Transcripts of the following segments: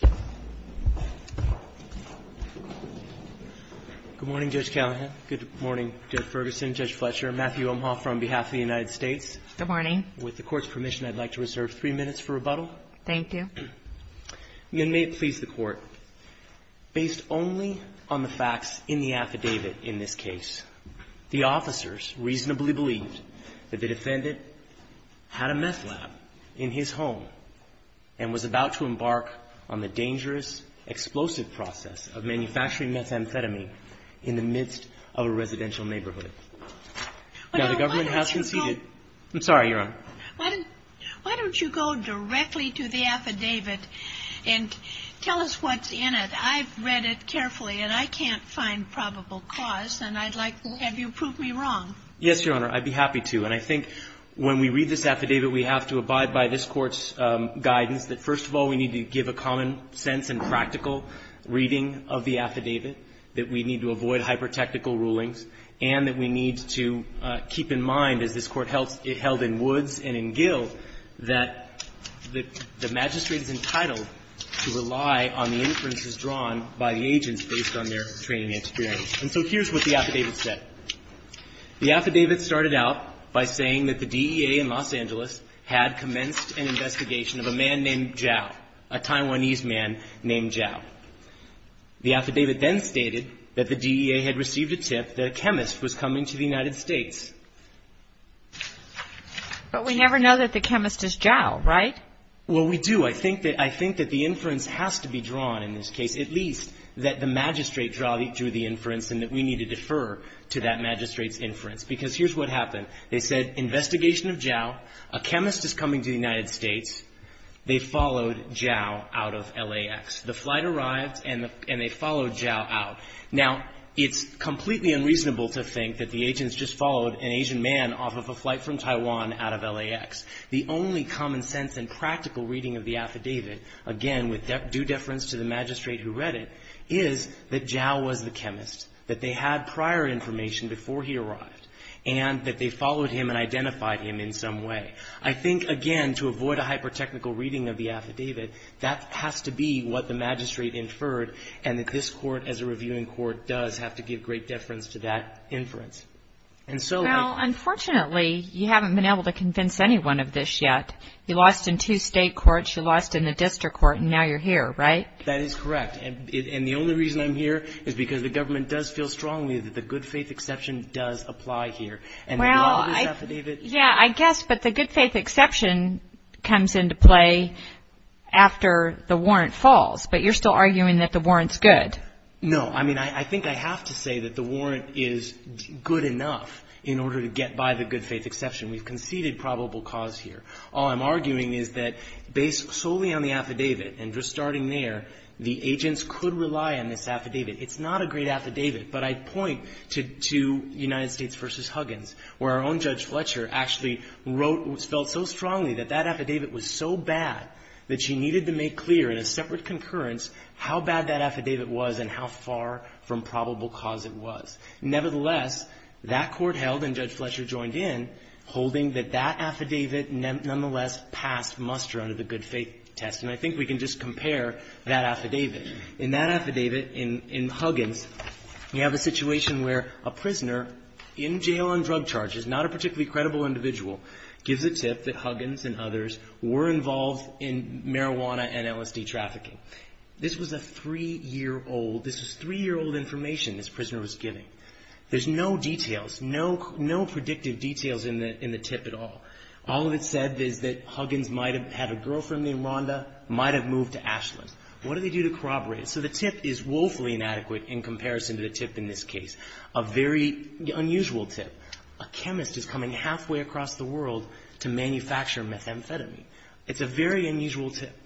Good morning, Judge Callahan. Good morning, Judge Ferguson, Judge Fletcher, Matthew Omhoff on behalf of the United States. Good morning. With the Court's permission, I'd like to reserve three minutes for rebuttal. Thank you. And may it please the Court, based only on the facts in the affidavit in this case, the officers reasonably believed that the dangerous explosive process of manufacturing methamphetamine in the midst of a residential neighborhood. Now, the government has conceded. I'm sorry, Your Honor. Why don't you go directly to the affidavit and tell us what's in it. I've read it carefully, and I can't find probable cause, and I'd like to have you prove me wrong. Yes, Your Honor, I'd be happy to. And I think when we read this affidavit, we have to abide by this Court's guidance that, first of all, we need to give a common sense and practical reading of the affidavit, that we need to avoid hyper-technical rulings, and that we need to keep in mind, as this Court held in Woods and in Gill, that the magistrate is entitled to rely on the inferences drawn by the agents based on their training experience. And so here's what the affidavit said. The affidavit started out by saying that the DEA in Los Angeles had commenced an investigation of a man named Zhao, a Taiwanese man named Zhao. The affidavit then stated that the DEA had received a tip that a chemist was coming to the United States. But we never know that the chemist is Zhao, right? Well, we do. I think that the inference has to be drawn in this case, at least that the magistrate's inference, because here's what happened. They said, investigation of Zhao, a chemist is coming to the United States. They followed Zhao out of LAX. The flight arrived and they followed Zhao out. Now, it's completely unreasonable to think that the agents just followed an Asian man off of a flight from Taiwan out of LAX. The only common sense and practical reading of the affidavit, again, with due deference to the magistrate who read it, is that Zhao was the chemist, that they had prior information before he arrived, and that they followed him and identified him in some way. I think, again, to avoid a hyper-technical reading of the affidavit, that has to be what the magistrate inferred and that this court, as a reviewing court, does have to give great deference to that inference. Well, unfortunately, you haven't been able to convince anyone of this yet. You lost in two state courts, you lost in the district court, and now you're here, right? That is correct. And the only reason I'm here is because the government does feel strongly that the good faith exception does apply here. Well, yeah, I guess, but the good faith exception comes into play after the warrant falls, but you're still arguing that the warrant's good. No, I mean, I think I have to say that the warrant is good enough in order to get by the good faith exception. We've conceded probable cause here. All I'm arguing is that, based the agents could rely on this affidavit. It's not a great affidavit, but I point to United States v. Huggins, where our own Judge Fletcher actually wrote, felt so strongly that that affidavit was so bad that she needed to make clear in a separate concurrence how bad that affidavit was and how far from probable cause it was. Nevertheless, that court held, and Judge Fletcher joined in, holding that that affidavit nonetheless passed muster under the good faith test. And I think we can just compare that affidavit. In that affidavit, in Huggins, we have a situation where a prisoner in jail on drug charges, not a particularly credible individual, gives a tip that Huggins and others were involved in marijuana and LSD trafficking. This was a three-year-old, this was three-year-old information this prisoner was giving. There's no details, no predictive details in the tip at all. All that's said is that Huggins might have had a girlfriend named Rhonda, might have moved to Ashland. What do they do to corroborate it? So the tip is woefully inadequate in comparison to the tip in this case. A very unusual tip. A chemist is coming halfway across the world to manufacture methamphetamine. It's a very unusual tip.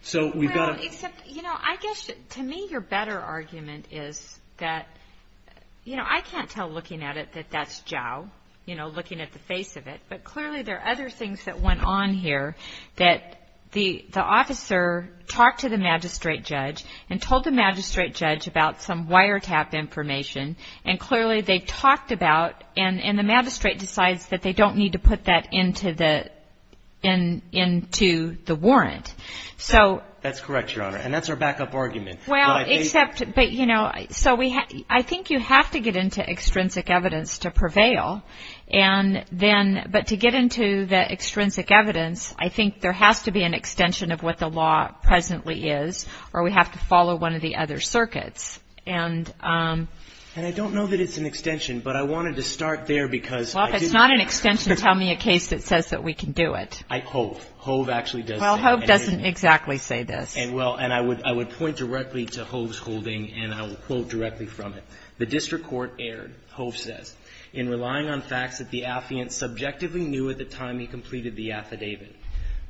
So we've got a... Well, except, you know, I guess to me your better argument is that, you know, I can't tell looking at it that that's Jow, you know, looking at the face of it. But clearly there talked to the magistrate judge and told the magistrate judge about some wiretap information. And clearly they talked about, and the magistrate decides that they don't need to put that into the, into the warrant. So... That's correct, Your Honor. And that's our backup argument. Well, except, but, you know, so we have, I think you have to get into extrinsic evidence to prevail. And then, but to get into the extrinsic evidence, I think there has to be an extension of what the law presently is, or we have to follow one of the other circuits. And... And I don't know that it's an extension, but I wanted to start there because... Well, if it's not an extension, tell me a case that says that we can do it. I, Hove. Hove actually does say... Well, Hove doesn't exactly say this. And well, and I would, I would point directly to Hove's holding, and I will quote directly from it. The district court aired, Hove says, in relying on facts that the affiant subjectively knew at the time he completed the affidavit,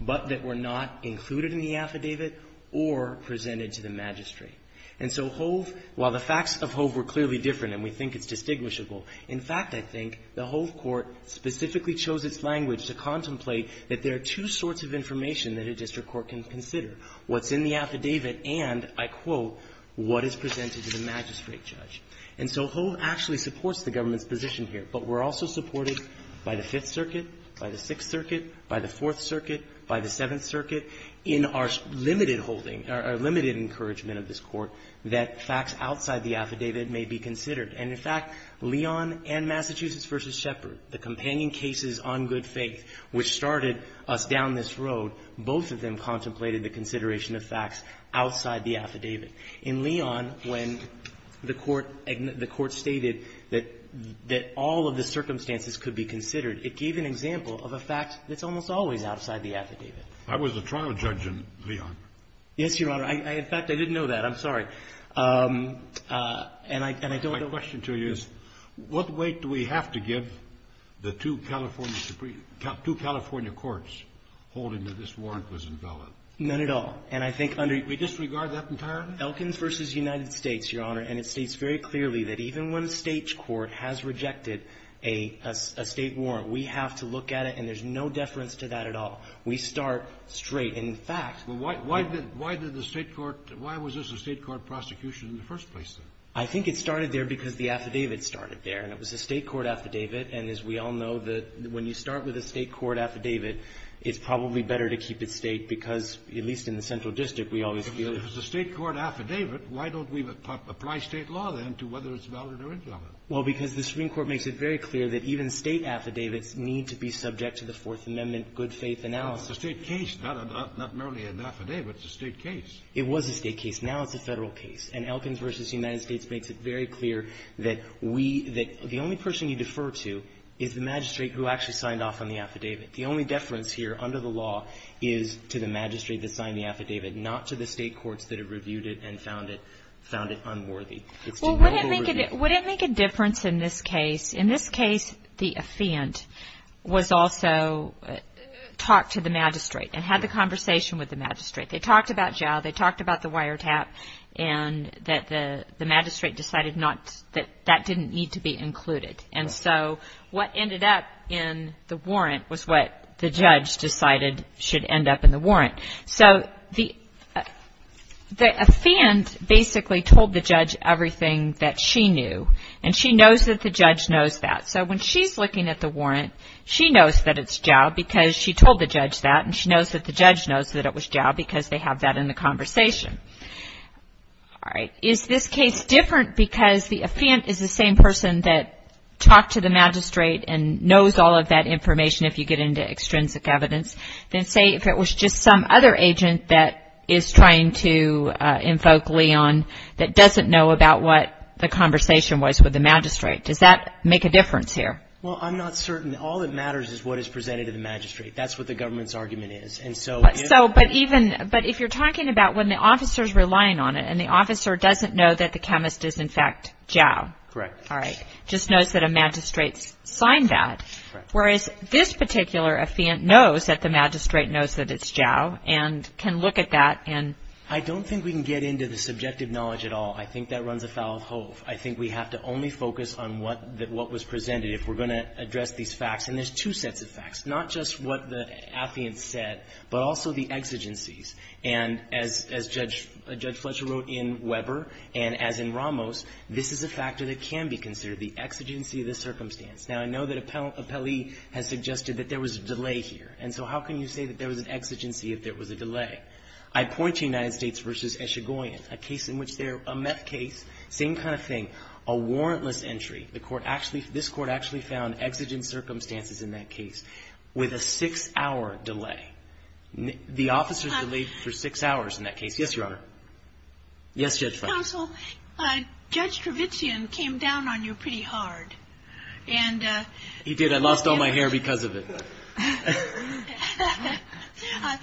but that were not included in the affidavit or presented to the magistrate. And so Hove, while the facts of Hove were clearly different and we think it's distinguishable, in fact, I think the Hove court specifically chose its language to contemplate that there are two sorts of information that a district court can consider, what's in the affidavit and, I quote, what is presented to the magistrate judge. And so Hove actually supports the government's position here, but we're also supported by the Fifth Circuit, by the Sixth Circuit, by the Fourth Circuit, by the Seventh Circuit, in our limited holding, our limited encouragement of this Court, that facts outside the affidavit may be considered. And in fact, Leon and Massachusetts v. Shepherd, the companion cases on good faith, which started us down this road, both of them contemplated the consideration of facts outside the affidavit. In Leon, when the Court stated that all of the circumstances could be considered, it gave an example of a fact that's almost always outside the affidavit. I was a trial judge in Leon. Yes, Your Honor. In fact, I didn't know that. I'm sorry. And I don't know the reason. My question to you is, what weight do we have to give the two California Supreme – two California courts holding that this warrant was invalid? None at all. And I think under you – We disregard that entirely? Elkins v. United States, Your Honor, and it states very clearly that even when a State court has rejected a State warrant, we have to look at it, and there's no deference to that at all. We start straight. And in fact – Well, why did the State court – why was this a State court prosecution in the first place, then? I think it started there because the affidavit started there. And it was a State court affidavit. And as we all know, when you start with a State court affidavit, it's probably better to keep it State because, at least in the Central District, we always feel that – If it's a State court affidavit, why don't we apply State law, then, to whether it's valid or invalid? Well, because the Supreme Court makes it very clear that even State affidavits need to be subject to the Fourth Amendment good-faith analysis. Well, it's a State case, not merely an affidavit. It's a State case. It was a State case. Now it's a Federal case. And Elkins v. United States makes it very clear that we – that the only person you defer to is the magistrate who actually signed off on the affidavit. The only deference here under the law is to the magistrate that signed the affidavit, not to the State courts that have reviewed it and found it – found it unworthy. Well, wouldn't it make a difference in this case? In this case, the offend was also talked to the magistrate and had the conversation with the magistrate. They talked about jail. They talked about the wiretap and that the magistrate decided not – that that didn't need to be included. And so, what ended up in the warrant was what the judge decided should end up in the warrant. So, the – the offend basically told the judge everything that she knew. And she knows that the judge knows that. So, when she's looking at the warrant, she knows that it's jail because she told the judge that. And she knows that the judge knows that it was jail because they have that in the conversation. All right. Is this case different because the offend is the same person that talked to the magistrate and knows all of that information if you get into extrinsic evidence? Then say if it was just some other agent that is trying to invoke Leon that doesn't know about what the conversation was with the magistrate. Does that make a difference here? Well, I'm not certain. All that matters is what is presented to the magistrate. That's what the government's argument is. And so – So, but even – but if you're talking about when the officer's relying on it and the officer doesn't know that the chemist is, in fact, jail. Correct. All right. Just knows that a magistrate signed that. Correct. Whereas this particular affiant knows that the magistrate knows that it's jail and can look at that and – I don't think we can get into the subjective knowledge at all. I think that runs afoul of Hove. I think we have to only focus on what was presented. If we're going to address these facts – and there's two sets of facts, not just what the affiant said, but also the exigencies. And as Judge Fletcher wrote in Weber, and as in Ramos, this is a factor that can be considered, the exigency of the circumstance. Now, I know that Appellee has suggested that there was a delay here. And so how can you say that there was an exigency if there was a delay? I point to United States v. Eshigoyen, a case in which they're – a meth case, same kind of thing, a warrantless entry. The Court actually – this Court actually found exigent circumstances in that case with a six-hour delay. The officer delayed for six hours in that case. Yes, Your Honor. Yes, Judge Fletcher. Counsel, Judge Trevizan came down on you pretty hard. And – He did. I lost all my hair because of it.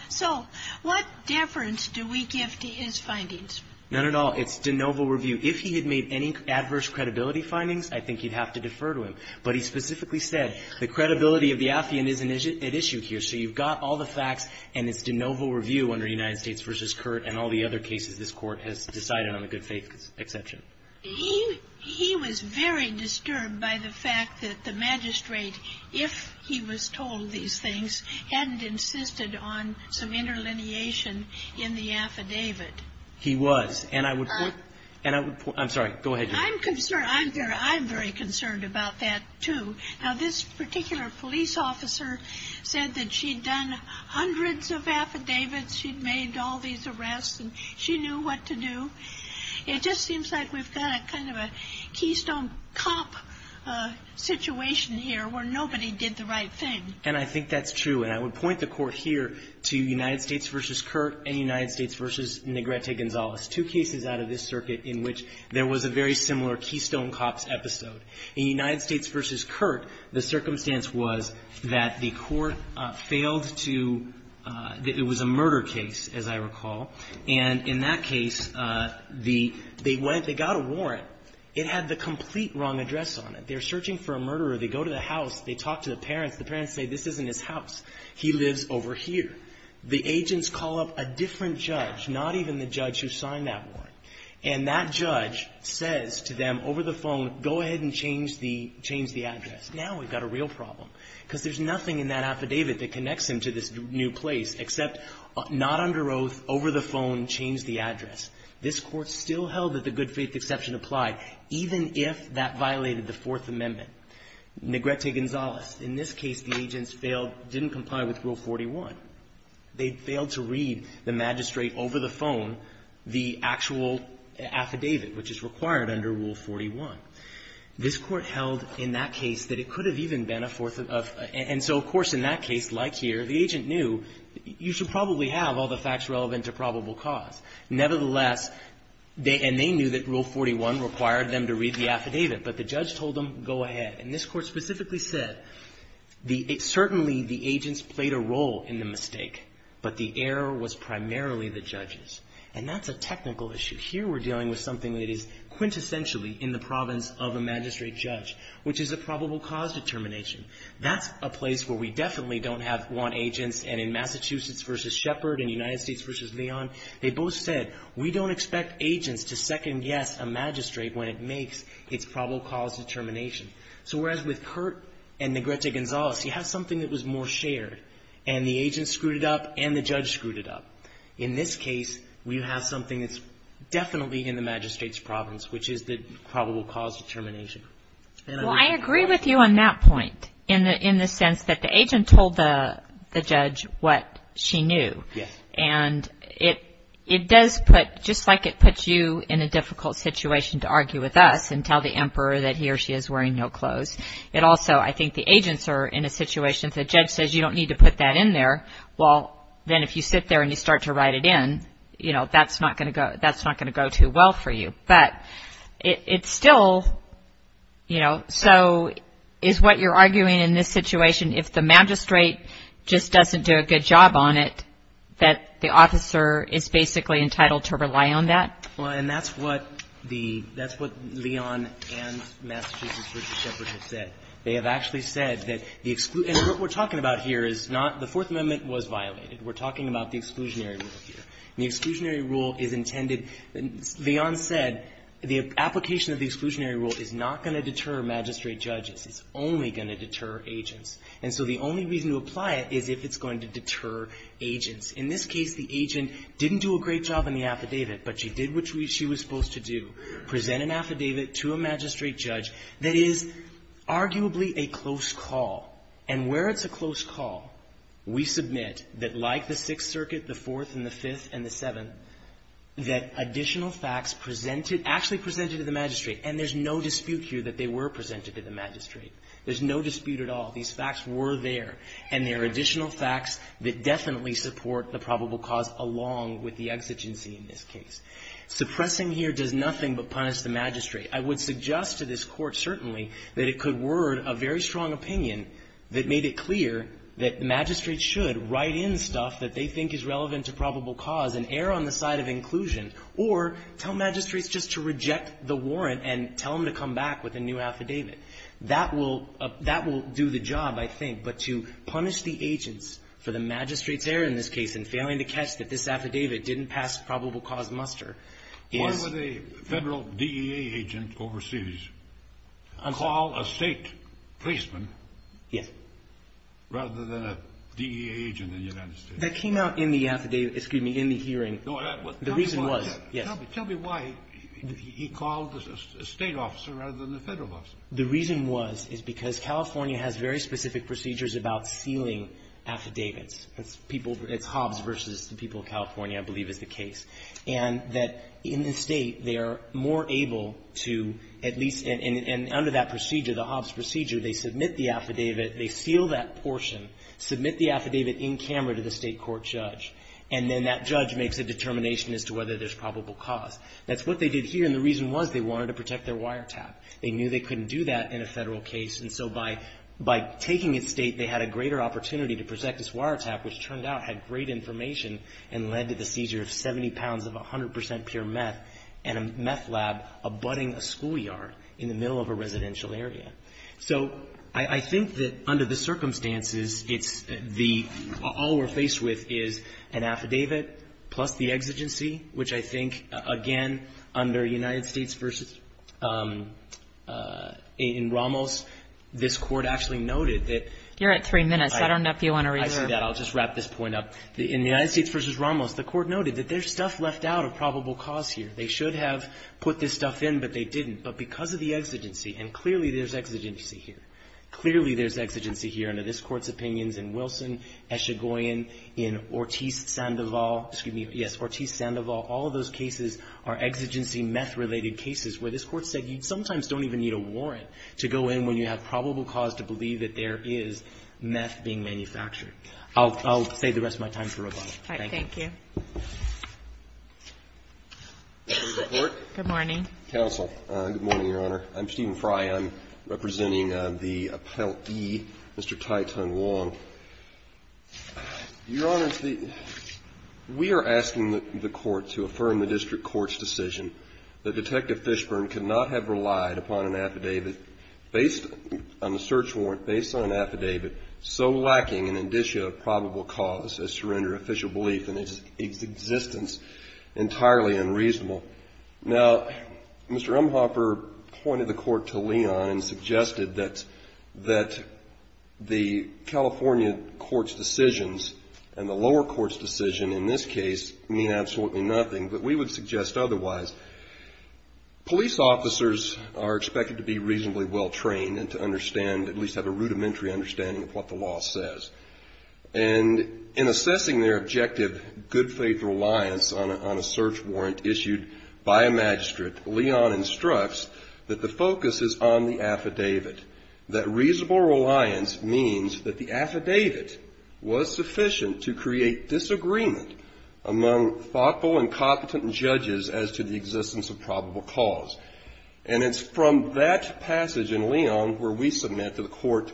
So what deference do we give to his findings? None at all. It's de novo review. If he had made any adverse credibility findings, I think you'd have to defer to him. But he specifically said the credibility of the affiant is at issue here. So you've got all the facts and it's de novo review under United States v. Curt and all the other cases this Court has decided on a good faith exception. He was very disturbed by the fact that the magistrate, if he was told these things, hadn't insisted on some interlineation in the affidavit. He was. And I would point – and I would – I'm sorry. Go ahead, Judge. I'm concerned. I'm very concerned about that, too. Now, this particular police officer said that she'd done hundreds of affidavits, she'd made all these arrests, and she knew what to do. It just seems like we've got kind of a Keystone Cop situation here where nobody did the right thing. And I think that's true. And I would point the Court here to United States v. Curt and United States v. Negrete Gonzalez, two cases out of this circuit in which there was a very similar Keystone Cops episode. In United States v. Curt, the circumstance was that the Court failed to – that it was a murder case, as I recall. And in that case, the – they went – they got a warrant. It had the complete wrong address on it. They're searching for a murderer. They go to the house. They talk to the parents. The parents say, this isn't his house. He lives over here. The agents call up a different judge, not even the judge who signed that warrant. And that judge says to them over the phone, go ahead and change the – change the address. Now we've got a real problem, because there's nothing in that affidavit that connects him to this new place, except not under oath, over the phone, change the address. This Court still held that the good faith exception applied, even if that violated the Fourth Amendment. Negrete Gonzalez. In this case, the agents failed – didn't comply with Rule 41. They failed to read the magistrate over the phone the actual affidavit, which is required under Rule 41. This Court held in that case that it could have even been a fourth of – and so, of course, in that case, like here, the agent knew, you should probably have all the facts relevant to probable cause. Nevertheless, they – and they knew that Rule 41 required them to read the affidavit, but the judge told them, go ahead. And this Court specifically said, the – certainly, the agents played a role in the mistake, but the error was primarily the judges. And that's a technical issue. Here we're dealing with something that is quintessentially in the province of a magistrate judge, which is a probable cause determination. That's a place where we definitely don't have – want agents. And in Massachusetts v. Shepherd and United States v. Leon, they both said, we don't expect agents to second-guess a magistrate when it makes its probable cause determination. So, whereas with Kurt and Negrete Gonzalez, you have something that was more shared, and the agents screwed it up, and the judge screwed it up. In this case, we have something that's definitely in the magistrate's province, which is the probable cause determination. Well, I agree with you on that point, in the – in the sense that the agent told the judge what she knew. Yes. And it – it does put – just like it puts you in a difficult situation to argue with us and tell the emperor that he or she is wearing no clothes, it also – I think the agents are in a situation that the judge says, you don't need to put that in there. Well, then if you sit there and you start to write it in, you know, that's not going to go – that's not going to go too well for you. But it's still, you know, so is what you're arguing in this situation, if the magistrate just doesn't do a good job on it, that the officer is basically entitled to rely on that? Well, and that's what the – that's what Leon and Massachusetts v. Shepherd have said. They have actually said that the – and what we're talking about here is not – the Fourth Amendment was violated. We're talking about the exclusionary rule here. And the exclusionary rule is intended – Leon said the application of the exclusionary rule is not going to deter magistrate judges. It's only going to deter agents. And so the only reason to apply it is if it's going to deter agents. In this case, the agent didn't do a great job in the affidavit, but she did what she was supposed to do, present an affidavit to a magistrate judge that is arguably a close call. And where it's a close call, we submit that like the Sixth Circuit, the Fourth and the Fifth and the Seventh, that additional facts presented – actually presented to the magistrate. And there's no dispute here that they were presented to the magistrate. There's no dispute at all. These facts were there. And there are additional facts that definitely support the probable cause along with the exigency in this case. Suppressing here does nothing but punish the magistrate. I would suggest to this Court, certainly, that it could word a very strong opinion that made it clear that magistrates should write in stuff that they think is relevant to probable cause and err on the side of inclusion, or tell magistrates just to reject the warrant and tell them to come back with a new affidavit. That will – that will do the job, I think. But to punish the agents for the magistrate's error in this case and failing to catch that this affidavit didn't pass probable cause muster is – Well, DEA agent overseas called a State policeman rather than a DEA agent in the United States. That came out in the affidavit – excuse me, in the hearing. The reason was – yes. Tell me why he called a State officer rather than a Federal officer. The reason was, is because California has very specific procedures about sealing affidavits. It's people – it's Hobbs versus the people of California, I believe, is the case. And that in the State, they are more able to at least – and under that procedure, the Hobbs procedure, they submit the affidavit. They seal that portion, submit the affidavit in camera to the State court judge, and then that judge makes a determination as to whether there's probable cause. That's what they did here, and the reason was they wanted to protect their wiretap. They knew they couldn't do that in a Federal case, and so by taking it State, they had a greater opportunity to protect this wiretap, which turned out had great information and led to the seizure of 70 pounds of 100 percent pure meth and a meth lab abutting a schoolyard in the middle of a residential area. So I think that under the circumstances, it's the – all we're faced with is an affidavit plus the exigency, which I think, again, under United States versus – in Ramos, this Court actually noted that – You're at three minutes. I don't know if you want to reserve. I see that. I'll just wrap this point up. In the United States versus Ramos, the Court noted that there's stuff left out of probable cause here. They should have put this stuff in, but they didn't. But because of the exigency, and clearly there's exigency here. Clearly there's exigency here under this Court's opinions in Wilson, Eshigoyen, in Ortiz-Sandoval, excuse me, yes, Ortiz-Sandoval, all of those cases are exigency meth-related cases where this Court said you sometimes don't even need a warrant to go in when you have probable cause to believe that there is meth being manufactured. I'll save the rest of my time for rebuttal. All right. Thank you. Thank you. Good morning. Counsel. Good morning, Your Honor. I'm Stephen Fry. I'm representing the Appellee, Mr. Tai-Tung Wong. Your Honor, we are asking the Court to affirm the district court's decision that Detective Fishburne could not have relied upon an affidavit based on the search of probable cause as to render official belief in its existence entirely unreasonable. Now, Mr. Rumhoffer pointed the Court to Leon and suggested that the California Court's decisions and the lower court's decision in this case mean absolutely nothing, but we would suggest otherwise. Police officers are expected to be reasonably well-trained and to understand, at least have a rudimentary understanding of what the law says. And in assessing their objective good faith reliance on a search warrant issued by a magistrate, Leon instructs that the focus is on the affidavit, that reasonable reliance means that the affidavit was sufficient to create disagreement among thoughtful and competent judges as to the existence of probable cause. And it's from that passage in Leon where we submit that the Court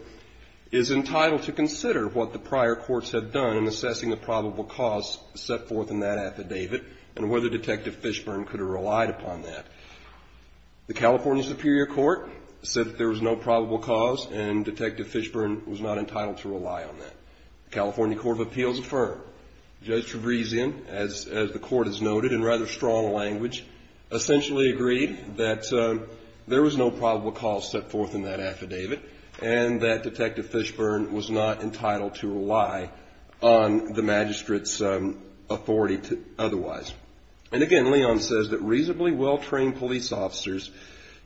is entitled to consider what the prior courts have done in assessing the probable cause set forth in that affidavit and whether Detective Fishburne could have relied upon that. The California Superior Court said that there was no probable cause and Detective Fishburne was not entitled to rely on that. California Court of Appeals affirmed. Judge Trevisan, as the Court has noted in rather strong language, essentially agreed that there was no probable cause set forth in that affidavit and that Detective Fishburne was not entitled to rely on the magistrate's authority otherwise. And again, Leon says that reasonably well-trained police officers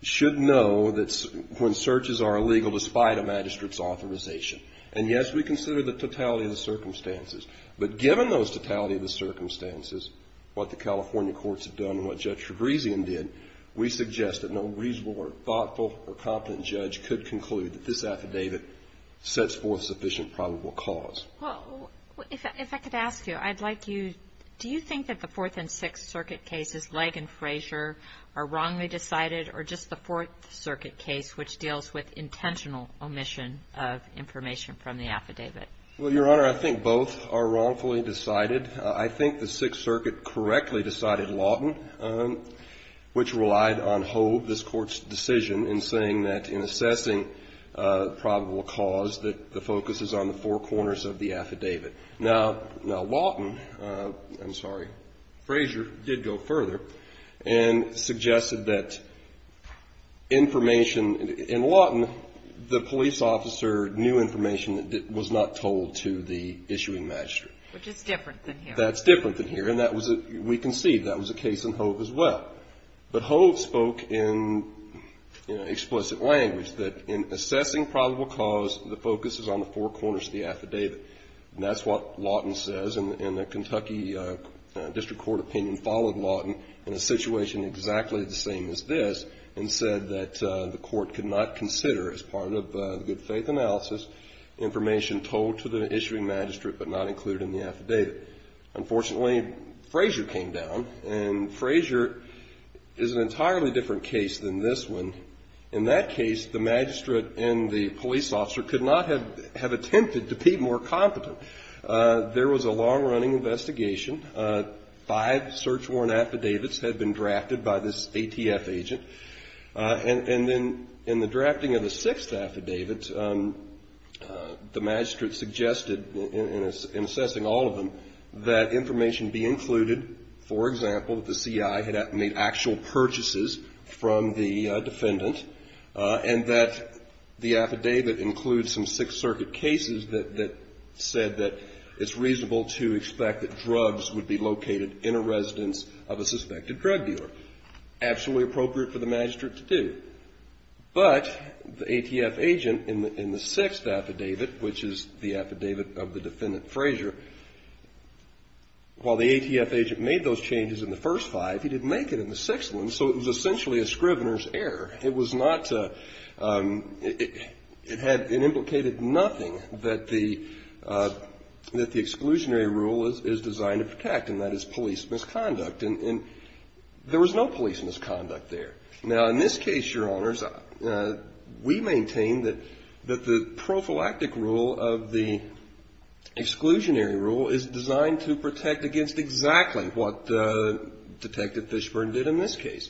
should know that when searches are illegal despite a magistrate's authorization. And yes, we consider the totality of the circumstances. But given those totality of the circumstances, what the California courts have done and what Judge Trevisan did, we suggest that no reasonable or thoughtful or competent judge could conclude that this affidavit sets forth sufficient probable cause. Well, if I could ask you, I'd like you, do you think that the Fourth and Sixth Circuit cases, Legg and Frazier, are wrongly decided or just the Fourth Circuit case which deals with intentional omission of information from the affidavit? Well, Your Honor, I think both are wrongfully decided. I think the Sixth Circuit correctly decided Lawton, which relied on Hove, this Court's decision, in saying that in assessing probable cause that the focus is on the four corners of the affidavit. Now, Lawton, I'm sorry, Frazier, did go further and suggested that information in Lawton, the police officer knew information that was not told to the issuing magistrate. Which is different than here. That's different than here. And that was, we concede, that was the case in Hove as well. But Hove spoke in explicit language that in assessing probable cause, the focus is on the four corners of the affidavit. That's what Lawton says. And the Kentucky District Court opinion followed Lawton in a situation exactly the same as this and said that the Court could not consider, as part of the good faith analysis, information told to the issuing magistrate but not included in the affidavit. Unfortunately, Frazier came down and Frazier is an entirely different case than this one. In that case, the magistrate and the police officer could not have attempted to be more competent. There was a long-running investigation. Five search warrant affidavits had been drafted by this ATF agent. And then in the drafting of the sixth affidavit, the magistrate suggested, in assessing all of them, that information be included, for example, that the CI had made actual purchases from the defendant and that the affidavit include some Sixth Circuit cases that said that it's reasonable to expect that drugs would be located in a residence of a suspected drug dealer. Absolutely appropriate for the magistrate to do. But the ATF agent in the sixth affidavit, which is the affidavit of the defendant Frazier, while the ATF agent made those changes in the first five, he didn't make it in the sixth one. So it was essentially a scrivener's error. It was not, it had, it implicated nothing that the exclusionary rule is designed to protect and that is police misconduct. And there was no police misconduct there. Now, in this case, your honors, we maintain that the prophylactic rule of the exclusionary rule is designed to protect against exactly what Detective Fishburne did in this case.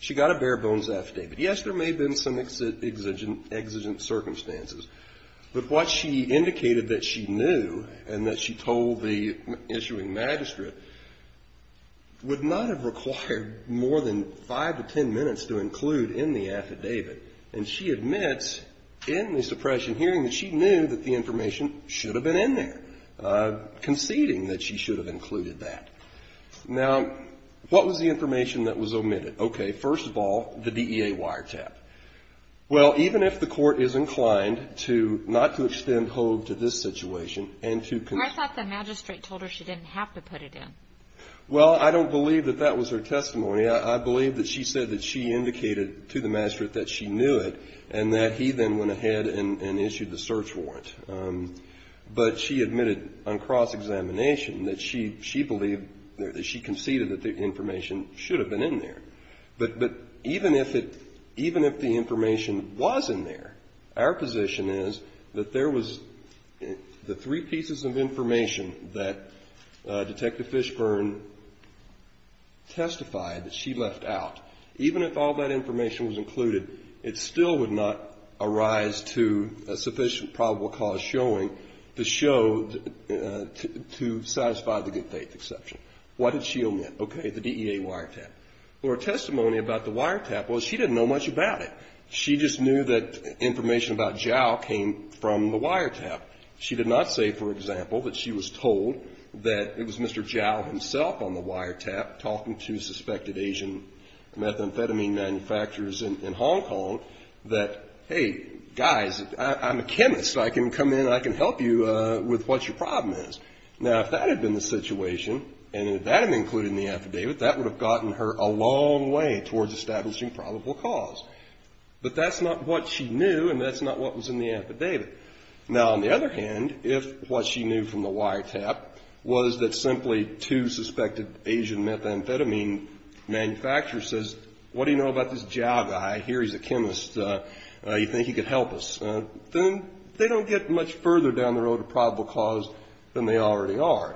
She got a bare bones affidavit. Yes, there may have been some exigent circumstances, but what she indicated that she told the issuing magistrate would not have required more than five to ten minutes to include in the affidavit. And she admits in the suppression hearing that she knew that the information should have been in there, conceding that she should have included that. Now, what was the information that was omitted? Okay, first of all, the DEA wiretap. Well, even if the court is inclined to not to extend hold to this situation and to I thought the magistrate told her she didn't have to put it in. Well, I don't believe that that was her testimony. I believe that she said that she indicated to the magistrate that she knew it and that he then went ahead and issued the search warrant. But she admitted on cross-examination that she believed, that she conceded that the information should have been in there. But even if it, even if the information was in there, our position is that there was the three pieces of information that Detective Fishburne testified that she left out. Even if all that information was included, it still would not arise to a sufficient probable cause showing to show, to satisfy the good faith exception. What did she omit? Okay, the DEA wiretap. Well, her testimony about the wiretap, well, she didn't know much about it. She just knew that information about Jowell came from the wiretap. She did not say, for example, that she was told that it was Mr. Jowell himself on the wiretap talking to suspected Asian methamphetamine manufacturers in Hong Kong that, hey, guys, I'm a chemist. I can come in and I can help you with what your problem is. Now, if that had been the situation and if that had been included in the affidavit, that would have gotten her a long way towards establishing probable cause. But that's not what she knew and that's not what was in the affidavit. Now, on the other hand, if what she knew from the wiretap was that simply two suspected Asian methamphetamine manufacturers says, what do you know about this Jowell guy? Here he's a chemist. You think he could help us? Then they don't get much further down the road to probable cause than they already are.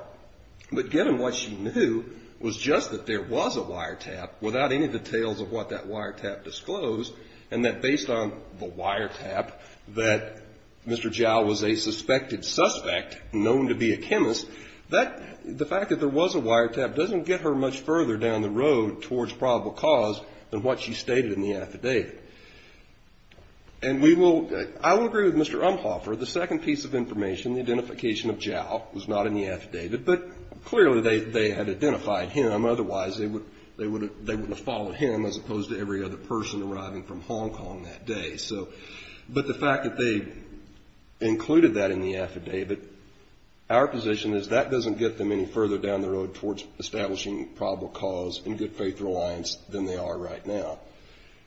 But given what she knew was just that there was a wiretap without any details of what that wiretap disclosed and that based on the wiretap that Mr. Jowell was a suspected suspect known to be a chemist, the fact that there was a wiretap doesn't get her much further down the road towards probable cause than what she stated in the affidavit. And I will agree with Mr. Umphoffer, the second piece of information, the identification of Jowell was not in the affidavit, but clearly they had identified him. Otherwise they wouldn't have followed him as opposed to every other person arriving from Hong Kong that day. But the fact that they included that in the affidavit, our position is that doesn't get them any further down the road towards establishing probable cause in good faith reliance than they are right now.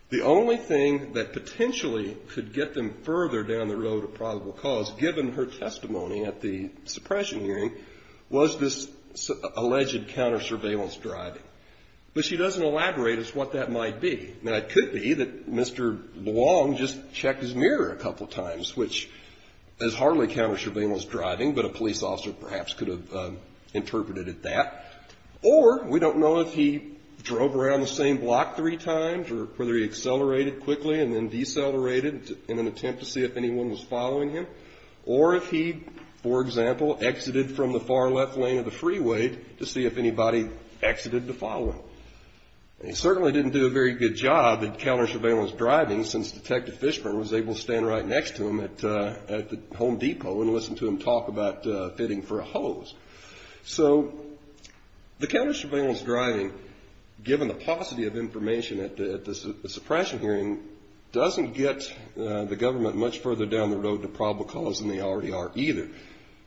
The only thing that potentially could get them further down the road of probable cause, given her testimony at the suppression hearing, was this alleged counter surveillance driving. But she doesn't elaborate as to what that might be. Now it could be that Mr. Luong just checked his mirror a couple times, which is hardly counter surveillance driving, but a police officer perhaps could have interpreted it that. Or we don't know if he drove around the same block three times or whether he accelerated quickly and then decelerated in an attempt to see if anyone was following him. Or if he, for example, exited from the far left lane of the freeway to see if anybody exited to follow him. He certainly didn't do a very good job at counter surveillance driving since Detective Fishburne was able to stand right next to him at the Home Depot and listen to him talk about fitting for a hose. So the counter surveillance driving, given the paucity of information at the suppression hearing, doesn't get the government much further down the road to probable cause than they already are either.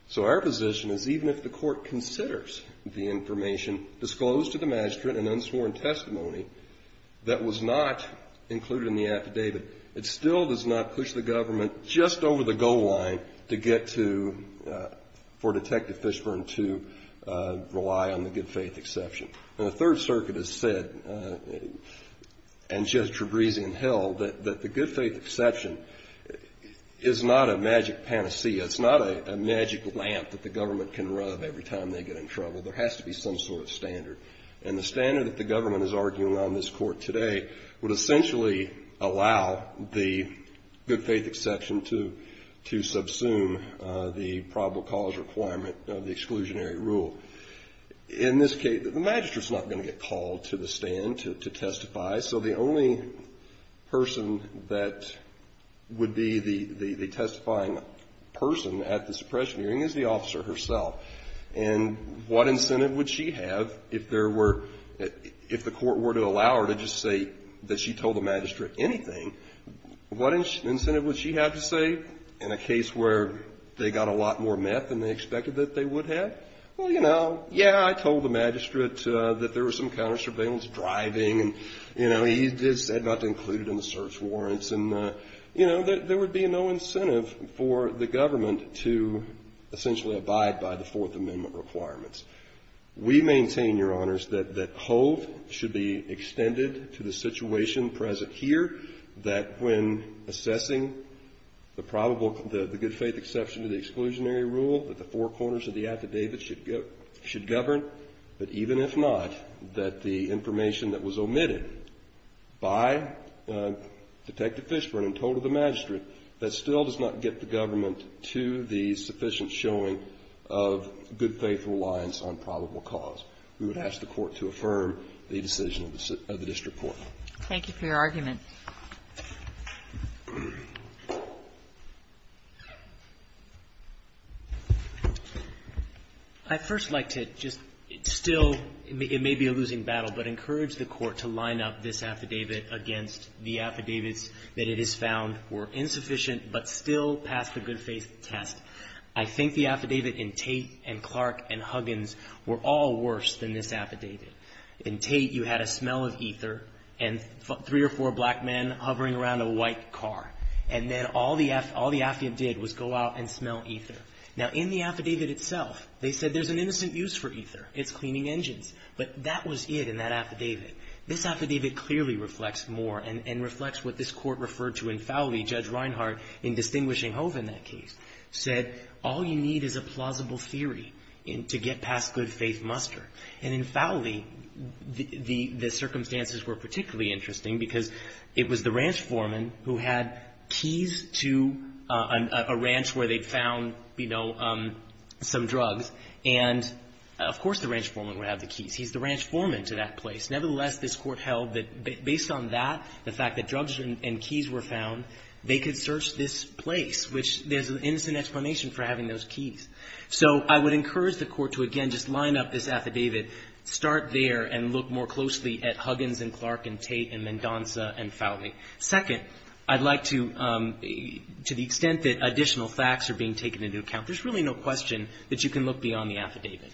So our position is even if the court considers the information disclosed to the magistrate, an unsworn testimony that was not included in the affidavit, it still does not push the government just over the goal line to get to, for Detective Fishburne to rely on the good faith exception. And the Third Circuit has said, and Judge Trebrizian held, that the good faith exception is not a magic panacea. It's not a magic lamp that the government can rub every time they get in trouble. There has to be some sort of standard. And the standard that the government is arguing on this court today would essentially allow the good faith exception to subsume the probable cause requirement of the exclusionary rule. In this case, the magistrate's not going to get called to the stand to testify. So the only person that would be the testifying person at the suppression hearing is the officer herself. And what incentive would she have if there were, if the court were to allow her to just say that she told the magistrate anything, what incentive would she have to say in a case where they got a lot more meth than they expected that they would have? Well, you know, yeah, I told the magistrate that there was some counter He just said not to include it in the search warrants. And, you know, there would be no incentive for the government to essentially abide by the Fourth Amendment requirements. We maintain, Your Honors, that hold should be extended to the situation present here, that when assessing the probable, the good faith exception to the exclusionary rule, that the four corners of the affidavit should govern, that even if not, that the information that was omitted by Detective Fishburne and told of the magistrate, that still does not get the government to the sufficient showing of good faith reliance on probable cause. We would ask the Court to affirm the decision of the district court. Thank you for your argument. I'd first like to just still, it may be a losing battle, but I think it's a good battle, but encourage the Court to line up this affidavit against the affidavits that it has found were insufficient but still passed the good faith test. I think the affidavit in Tate and Clark and Huggins were all worse than this affidavit. In Tate, you had a smell of ether and three or four black men hovering around a white car. And then all the affidavit did was go out and smell ether. Now, in the affidavit itself, they said there's an innocent use for ether. It's cleaning engines. But that was it in that affidavit. This affidavit clearly reflects more and reflects what this Court referred to in Fowley. Judge Reinhardt, in distinguishing Hove in that case, said all you need is a plausible theory to get past good faith muster. And in Fowley, the circumstances were particularly interesting because it was the ranch foreman who had keys to a ranch where they found, you know, some drugs. And, of course, the ranch foreman would have the keys. He's the ranch foreman to that place. Nevertheless, this Court held that based on that, the fact that drugs and keys were found, they could search this place, which there's an innocent explanation for having those keys. So I would encourage the Court to, again, just line up this affidavit, start there, and look more closely at Huggins and Clark and Tate and Mendonca and Fowley. Second, I'd like to the extent that additional facts are being taken into account. There's really no question that you can look beyond the affidavit.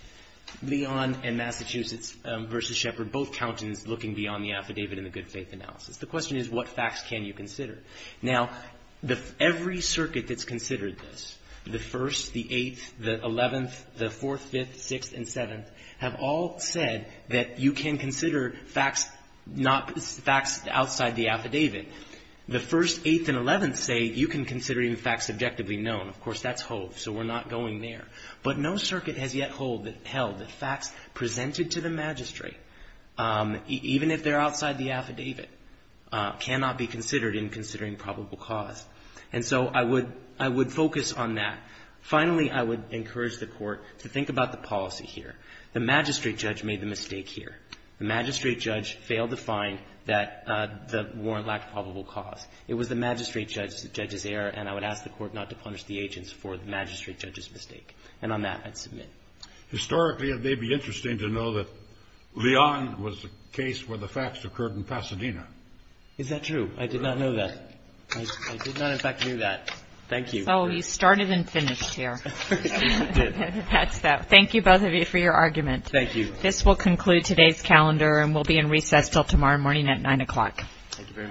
Leon and Massachusetts v. Shepherd, both countenance looking beyond the affidavit in the good faith analysis. The question is, what facts can you consider? Now, every circuit that's considered this, the First, the Eighth, the Eleventh, the Fourth, Fifth, Sixth, and Seventh, have all said that you can consider facts not as facts outside the affidavit. The First, Eighth, and Eleventh say you can consider even facts subjectively known. Of course, that's Hove. So we're not going there. But no circuit has yet held that facts presented to the magistrate, even if they're outside the affidavit, cannot be considered in considering probable cause. And so I would focus on that. Finally, I would encourage the Court to think about the policy here. The magistrate judge made the mistake here. The magistrate judge failed to find that the warrant lacked probable cause. It was the magistrate judge's error, and I would ask the Court not to punish the agents for the magistrate judge's mistake. And on that, I'd submit. Historically, it may be interesting to know that Leon was the case where the facts occurred in Pasadena. Is that true? I did not know that. I did not, in fact, know that. Thank you. Oh, you started and finished here. That's that. Thank you, both of you, for your argument. Thank you. This will conclude today's calendar and will be in recess until tomorrow morning at 9 o'clock. Thank you very much. All rise for the 7th century.